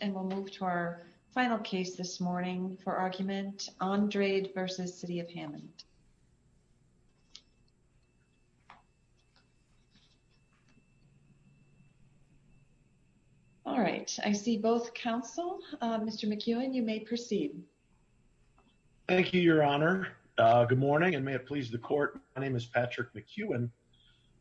and we'll move to our final case this morning for argument Andrade versus City of Hammond. All right I see both counsel. Mr. McEwen you may proceed. Thank you Your Honor. Good morning and may it please the court. My name is Patrick McEwen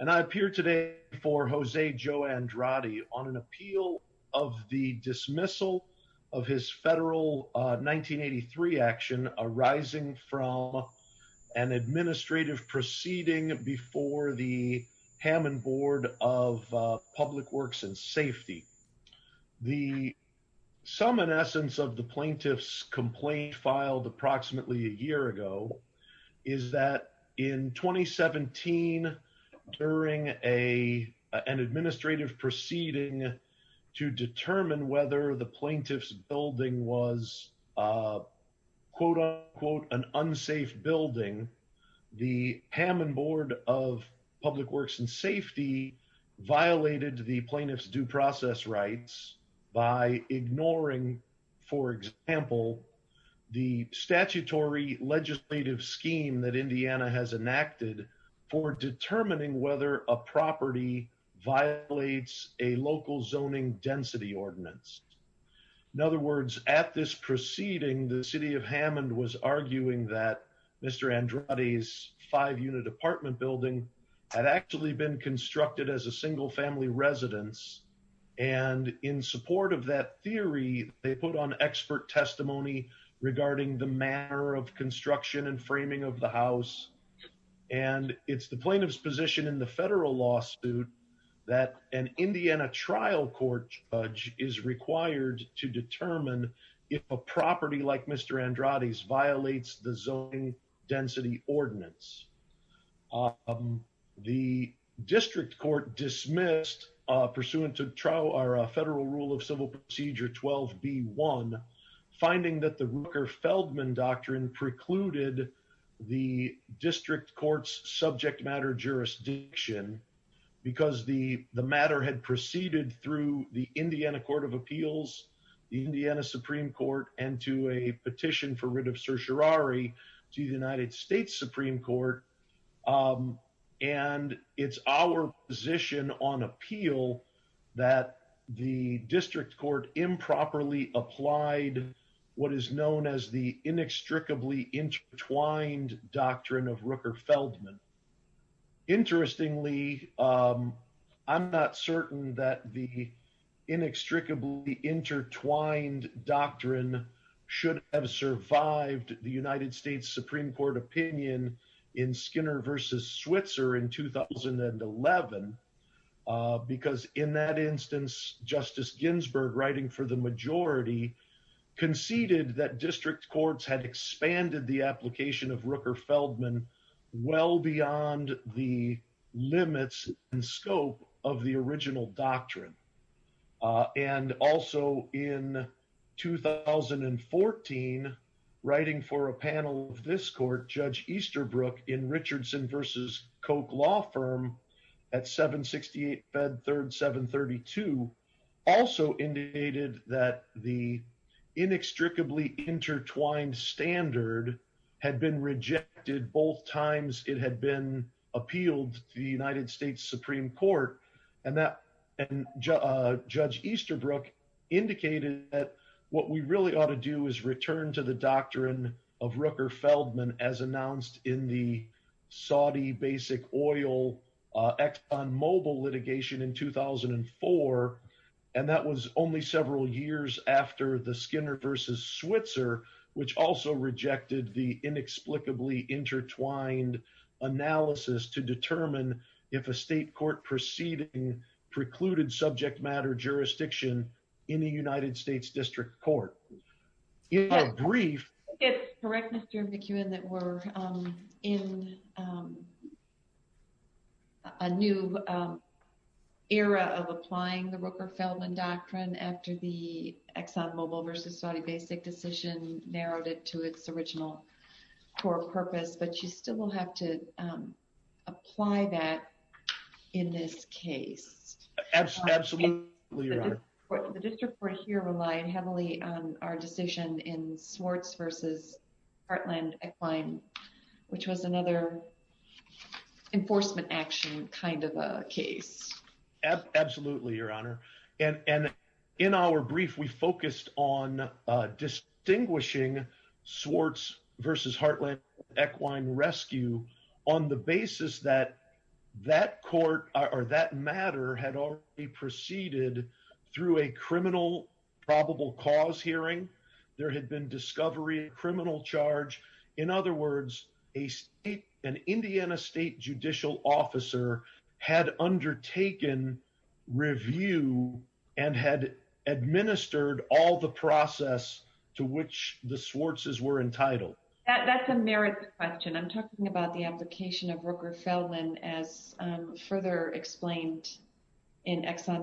and I appear today before Jose Joe Andrade on an appeal of the dismissal of his federal 1983 action arising from an administrative proceeding before the Hammond Board of Public Works and Safety. The sum and essence of the plaintiff's complaint filed approximately a year ago is that in 2017 during a an administrative proceeding to determine whether the plaintiff's building was quote-unquote an unsafe building the Hammond Board of Public Works and Safety violated the plaintiff's due process rights by enacted for determining whether a property violates a local zoning density ordinance. In other words at this proceeding the City of Hammond was arguing that Mr. Andrade's five-unit apartment building had actually been constructed as a single-family residence and in support of that theory they put on expert testimony regarding the manner of construction and framing of the house and it's the plaintiff's position in the federal lawsuit that an Indiana trial court judge is required to determine if a property like Mr. Andrade's violates the zoning density ordinance. The district court dismissed pursuant to trial our federal rule of civil procedure 12b1 finding that the district courts subject matter jurisdiction because the the matter had proceeded through the Indiana Court of Appeals the Indiana Supreme Court and to a petition for writ of certiorari to the United States Supreme Court and it's our position on appeal that the district court improperly applied what is known as the inextricably intertwined doctrine of Rooker Feldman. Interestingly I'm not certain that the inextricably intertwined doctrine should have survived the United States Supreme Court opinion in Skinner versus Switzer in 2011 because in that instance Justice Ginsburg writing for the majority conceded that district courts had expanded the application of Rooker Feldman well beyond the limits and scope of the original doctrine and also in 2014 writing for a panel of this court Judge Easterbrook in Richardson versus Koch law firm at 768 bed third 732 also indicated that the inextricably intertwined standard had been rejected both times it had been appealed to the United States Supreme Court and that and Judge Easterbrook indicated that what we really ought to do is return to the doctrine of Rooker Feldman as announced in the Saudi basic oil Exxon Mobil litigation in 2004 and that was only several years after the Skinner versus Switzer which also rejected the inexplicably intertwined analysis to determine if a state court proceeding precluded subject matter jurisdiction in the United States District Court. In our in a new era of applying the Rooker Feldman doctrine after the Exxon Mobil versus Saudi basic decision narrowed it to its original core purpose but you still will have to apply that in this case. Absolutely your honor. The district court here relied heavily on our decision in Swartz versus Heartland Equine which was another enforcement action kind of a case. Absolutely your honor and and in our brief we focused on distinguishing Swartz versus Heartland Equine rescue on the basis that that court or that matter had already proceeded through a criminal probable cause hearing there had been discovery criminal charge in other words a state an Indiana state judicial officer had undertaken review and had administered all the process to which the Swartz's were entitled. That's a merit question I'm talking about the application of Exxon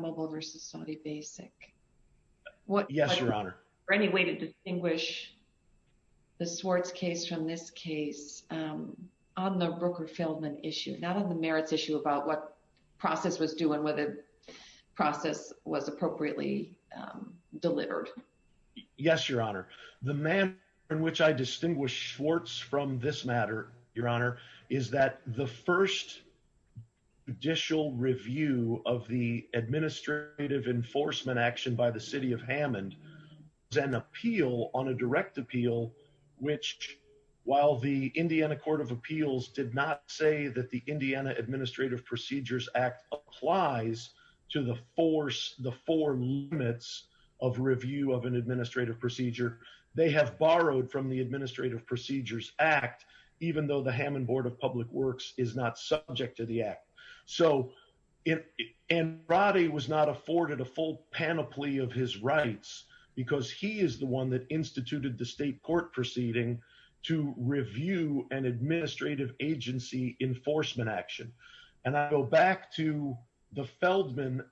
Mobil versus Saudi basic. Yes your honor. For any way to distinguish the Swartz case from this case on the Rooker Feldman issue not on the merits issue about what process was doing whether process was appropriately delivered. Yes your honor. The manner in which I distinguish Schwartz from this matter your honor is that the first judicial review of the administrative enforcement action by the city of Hammond is an appeal on a direct appeal which while the Indiana Court of Appeals did not say that the Indiana Administrative Procedures Act applies to the force the four limits of review of an administrative procedure they have borrowed from the Administrative Procedures Act even though the Hammond Board of Public Works is not subject to the act so it and Roddy was not afforded a full panoply of his rights because he is the one that instituted the state court proceeding to review an administrative agency enforcement action and I go back to the Feldman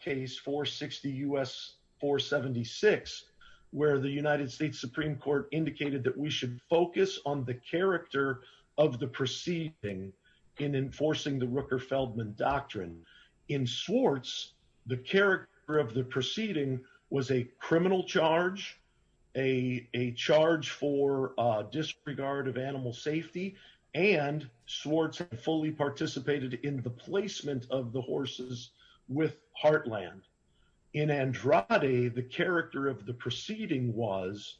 case for 60 US for 76 where the United States Supreme Court indicated that we should focus on the character of the proceeding in enforcing the Rooker Feldman doctrine in Swartz the character of the proceeding was a criminal charge a a charge for disregard of animal safety and Swartz fully participated in the and Roddy the character of the proceeding was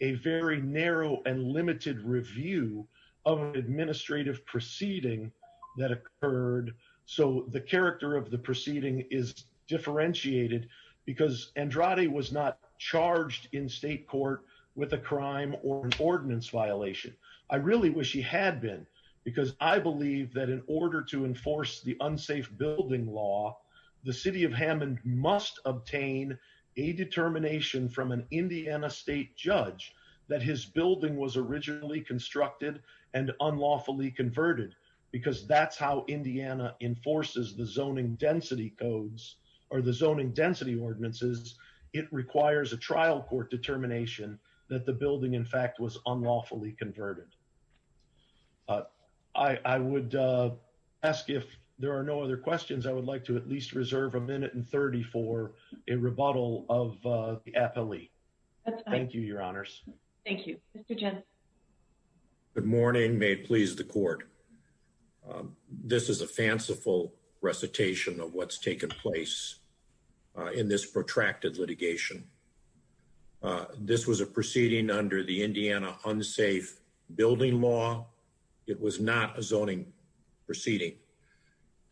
a very narrow and limited review of administrative proceeding that occurred so the character of the proceeding is differentiated because and Roddy was not charged in state court with a crime or an ordinance violation I really wish he had been because I believe that in order to enforce the unsafe building law the city of Hammond must obtain a determination from an Indiana state judge that his building was originally constructed and unlawfully converted because that's how Indiana enforces the zoning density codes or the zoning density ordinances it requires a trial court determination that the building in fact was unlawfully converted I I would ask if there are no other questions I would like to at least reserve a minute and 30 for a rebuttal of the appellee thank you your honors thank you good morning may it please the court this is a fanciful recitation of what's taken place in this protracted litigation this was a proceeding under the Indiana unsafe building law it was not a zoning proceeding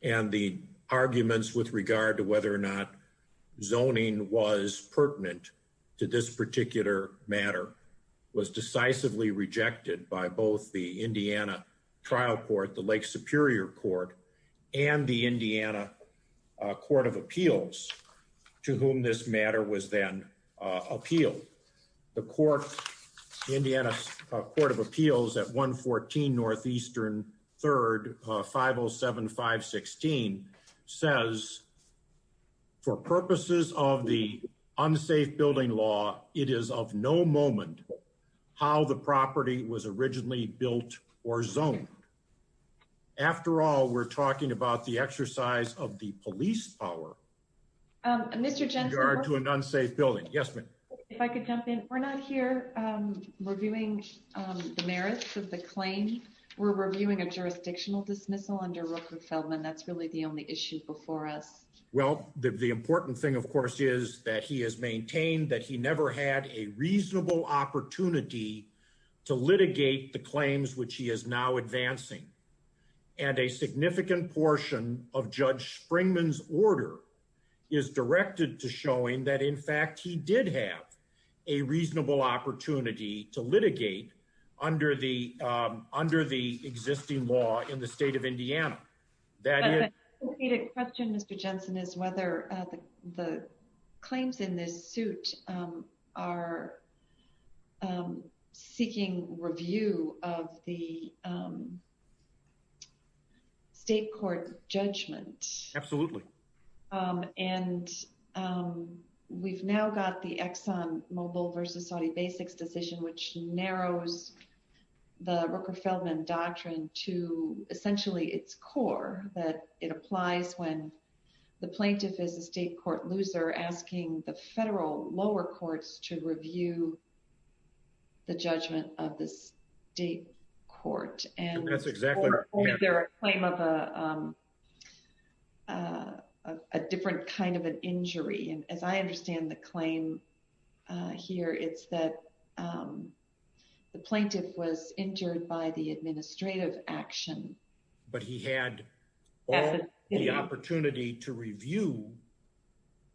and the arguments with regard to whether or not zoning was pertinent to this particular matter was decisively rejected by both the Indiana trial court the Lake Superior Court and the Indiana Court of Appeals to whom this matter was then appealed the Indiana Court of Appeals at 114 Northeastern 3rd 507 516 says for purposes of the unsafe building law it is of no moment how the property was originally built or zoned after all we're talking about the exercise of the reviewing the merits of the claim we're reviewing a jurisdictional dismissal under Rooker Feldman that's really the only issue before us well the important thing of course is that he has maintained that he never had a reasonable opportunity to litigate the claims which he is now advancing and a significant portion of Judge Springman's order is directed to showing that in fact he did have a reasonable opportunity to litigate under the under the existing law in the state of Indiana that question mr. Jensen is whether the claims in this suit are seeking review of the state court judgment absolutely and we've now got the Exxon Mobil versus Saudi basics decision which narrows the Rooker Feldman doctrine to essentially its core that it applies when the plaintiff is a state court loser asking the federal lower courts to review the different kind of an injury and as I understand the claim here it's that the plaintiff was injured by the administrative action but he had the opportunity to review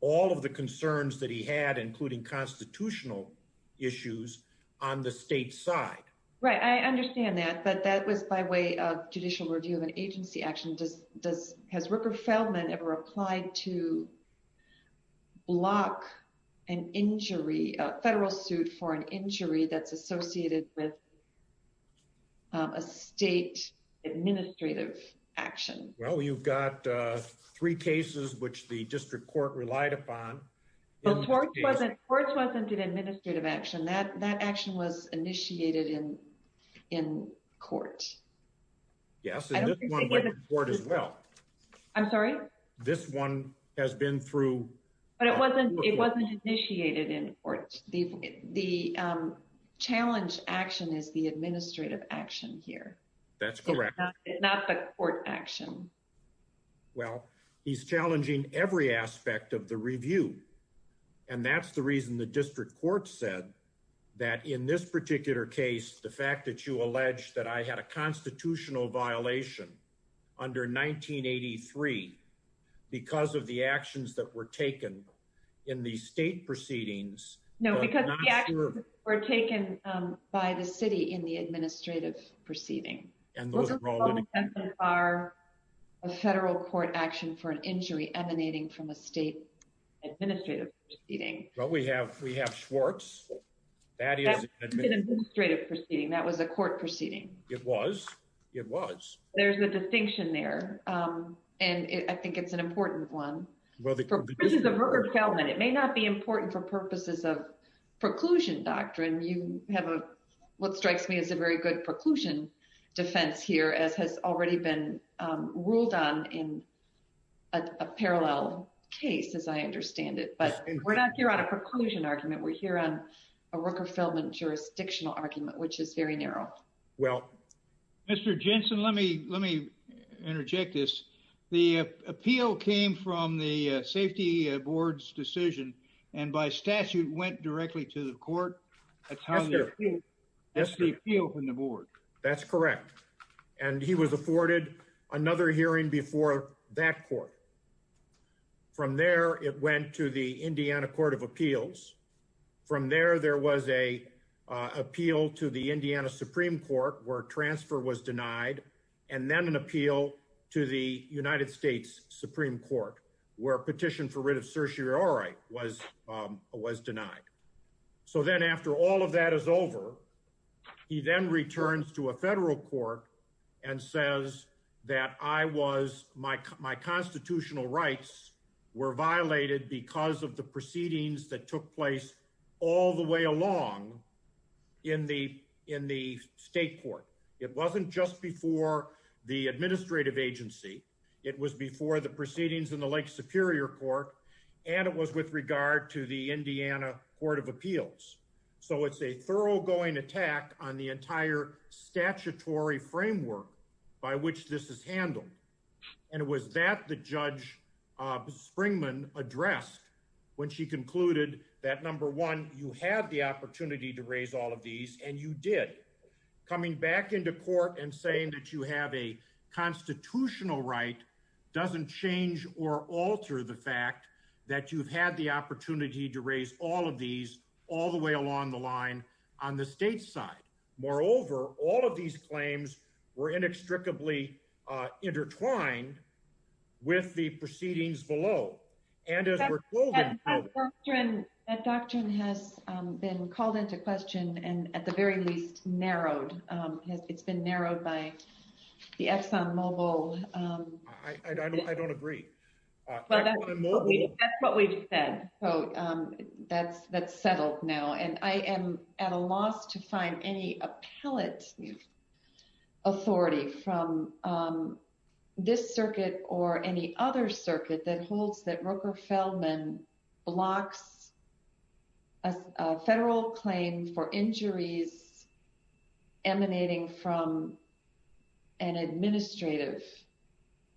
all of the concerns that he had including constitutional issues on the state side right I understand that but that was by way of judicial review of an agency action does does has Rooker Feldman ever applied to block an injury a federal suit for an injury that's associated with a state administrative action well you've got three cases which the district court relied upon the court wasn't courts wasn't an administrative action that that action was initiated in in court yes as well I'm sorry this one has been through but it wasn't it wasn't initiated in or the the challenge action is the administrative action here that's correct it's not the court action well he's challenging every aspect of the review and that's the reason the that in this particular case the fact that you alleged that I had a constitutional violation under 1983 because of the actions that were taken in the state proceedings no because we're taken by the city in the administrative proceeding and those are a federal court action for an injury emanating from a state administrative eating well we have we have Schwartz that is straight of proceeding that was a court proceeding it was it was there's a distinction there and I think it's an important one well the government it may not be important for purposes of preclusion doctrine you have a what strikes me as a very good preclusion defense here as has already been ruled on in a parallel case as I understand it but we're not here on a preclusion argument we're here on a Rooker-Feldman jurisdictional argument which is very narrow well mr. Jensen let me let me interject this the appeal came from the Safety Board's decision and by statute went directly to the court that's the appeal from the board that's correct and he was afforded another hearing before that court from there it went to the Indiana Court of Appeals from there there was a appeal to the Indiana Supreme Court where transfer was denied and then an appeal to the United States Supreme Court where a petition for writ of certiorari was was denied so then after all of that is over he then returns to a federal court and says that I was my constitutional rights were violated because of the proceedings that took place all the way along in the in the state court it wasn't just before the administrative agency it was before the proceedings in the Lake Superior Court and it was with regard to the Indiana Court of Appeals so it's a thoroughgoing attack on the entire statutory framework by which this is handled and it was that the judge Springman addressed when she concluded that number one you have the opportunity to raise all of these and you did coming back into court and saying that you have a constitutional right doesn't change or alter the fact that you've had the opportunity to raise all of these all the way along the line on the state side moreover all of these claims were inextricably intertwined with the proceedings below and as a doctrine has been called into question and at the narrowed by the Exxon Mobil I don't agree that's what we said oh that's that's settled now and I am at a loss to find any appellate authority from this circuit or any other circuit that holds that Roker Feldman blocks a federal claim for injuries emanating from an administrative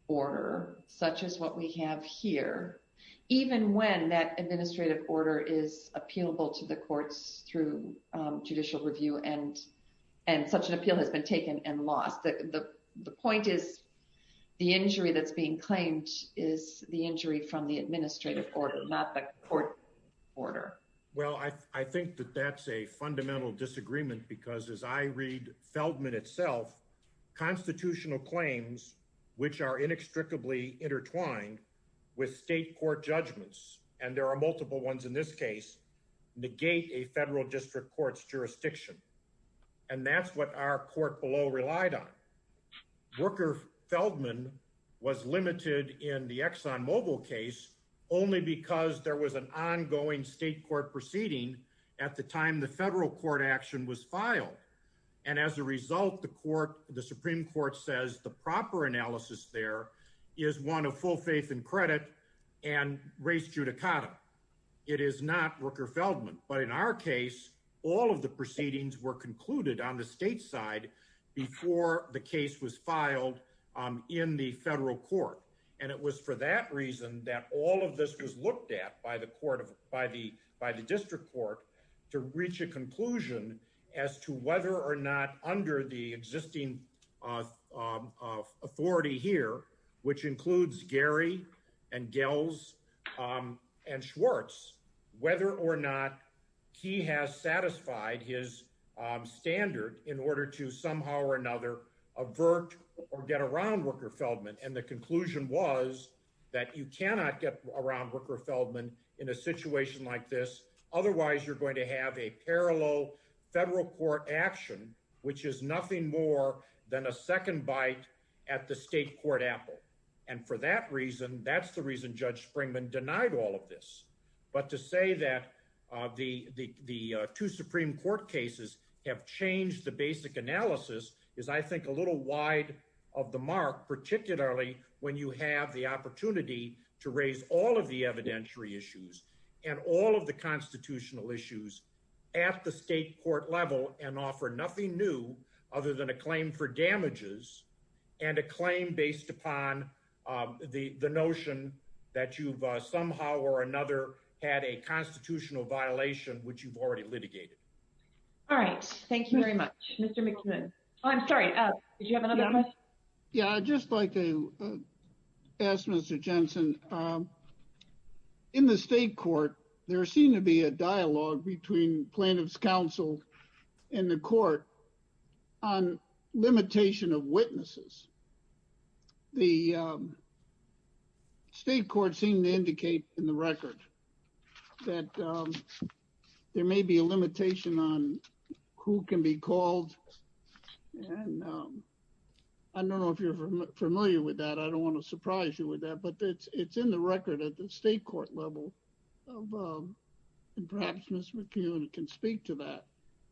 order such as what we have here even when that administrative order is appealable to the courts through judicial review and and such an appeal has been taken and lost that the the point is the injury that's being claimed is the injury from the that's a fundamental disagreement because as I read Feldman itself constitutional claims which are inextricably intertwined with state court judgments and there are multiple ones in this case negate a federal district courts jurisdiction and that's what our court below relied on Roker Feldman was limited in the Exxon Mobil case only because there was an ongoing state court proceeding at the time the federal court action was filed and as a result the court the Supreme Court says the proper analysis there is one of full faith and credit and race judicata it is not Roker Feldman but in our case all of the proceedings were concluded on the state side before the case was filed in the federal court and it was for that reason that all of this was looked at by the court of by the by the district court to reach a conclusion as to whether or not under the existing authority here which includes Gary and Gels and Schwartz whether or not he has satisfied his standard in order to somehow or another avert or get around Roker Feldman and the conclusion was that you cannot get around Roker Feldman in a situation like this otherwise you're going to have a parallel federal court action which is nothing more than a second bite at the state court apple and for that reason that's the reason Judge Springman denied all of this but to say that the the two Supreme Court cases have changed the basic analysis is I think a little wide of the mark particularly when you have the opportunity to raise all of the evidentiary issues and all of the constitutional issues at the state court level and offer nothing new other than a claim for damages and a claim based upon the the notion that you've somehow or another had a constitutional violation which you've already litigated all right thank you very much I'm sorry yeah I just like to ask mr. Jensen in the state court there seemed to be a dialogue between plaintiffs counsel in the court on limitation of witnesses the state court seemed to indicate in the record that there may be a limitation on who can be called I don't know if you're familiar with that I don't want to surprise you with that but it's it's in the record at the state court level and perhaps mr. McEwen can speak to that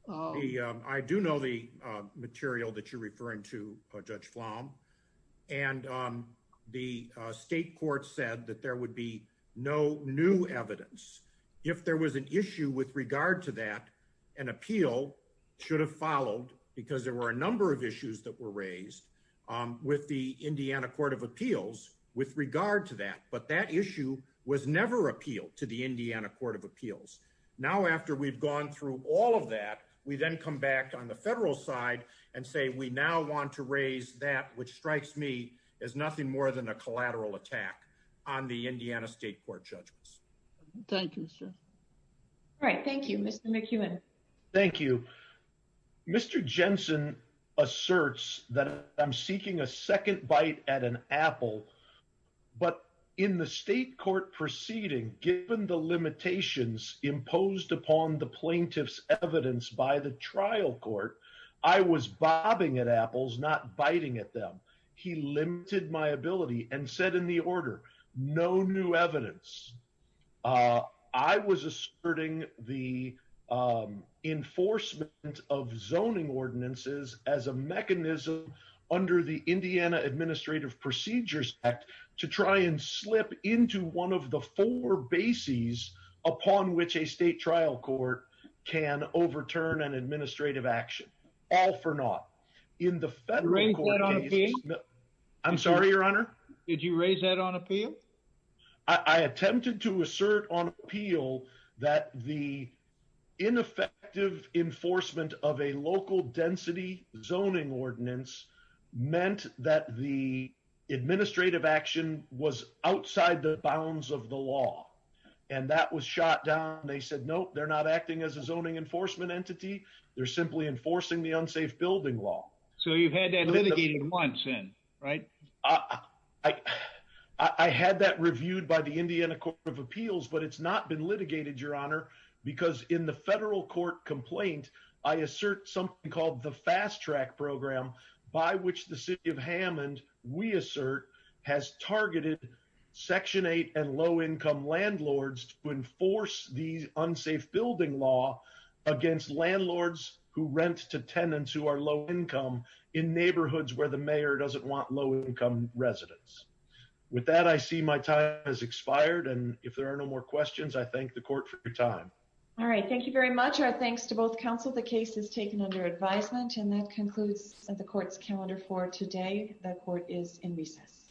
I do know the material that you're referring to judge flom and the state court said that there would be no new evidence if there was an issue with regard to that an appeal should have followed because there were a number of issues that were raised with the Indiana Court of Appeals with regard to that but that issue was never appealed to the Indiana Court of Appeals now after we've gone through all of that we then come back on the federal side and say we now want to raise that which thank you sir all right thank you mr. McEwen thank you mr. Jensen asserts that I'm seeking a second bite at an apple but in the state court proceeding given the limitations imposed upon the plaintiffs evidence by the trial court I was bobbing at apples not biting at them he limited my ability and said in the I was asserting the enforcement of zoning ordinances as a mechanism under the Indiana Administrative Procedures Act to try and slip into one of the four bases upon which a state trial court can overturn an administrative action all for not I'm sorry your honor did you raise that on appeal I attempted to assert on appeal that the ineffective enforcement of a local density zoning ordinance meant that the administrative action was outside the bounds of the law and that was shot down they said no they're not acting as a zoning enforcement entity they're simply enforcing the unsafe building law so you've had that litigated once in right I I had that reviewed by the Indiana Court of Appeals but it's not been litigated your honor because in the federal court complaint I assert something called the fast-track program by which the city of Hammond we assert has targeted section 8 and low-income landlords to enforce these unsafe building law against landlords who rent to tenants who are low-income in neighborhoods where the mayor doesn't want low-income residents with that I see my time has expired and if there are no more questions I thank the court for your time all right thank you very much our thanks to both counsel the case is taken under advisement and that concludes the court's calendar for today that court is in recess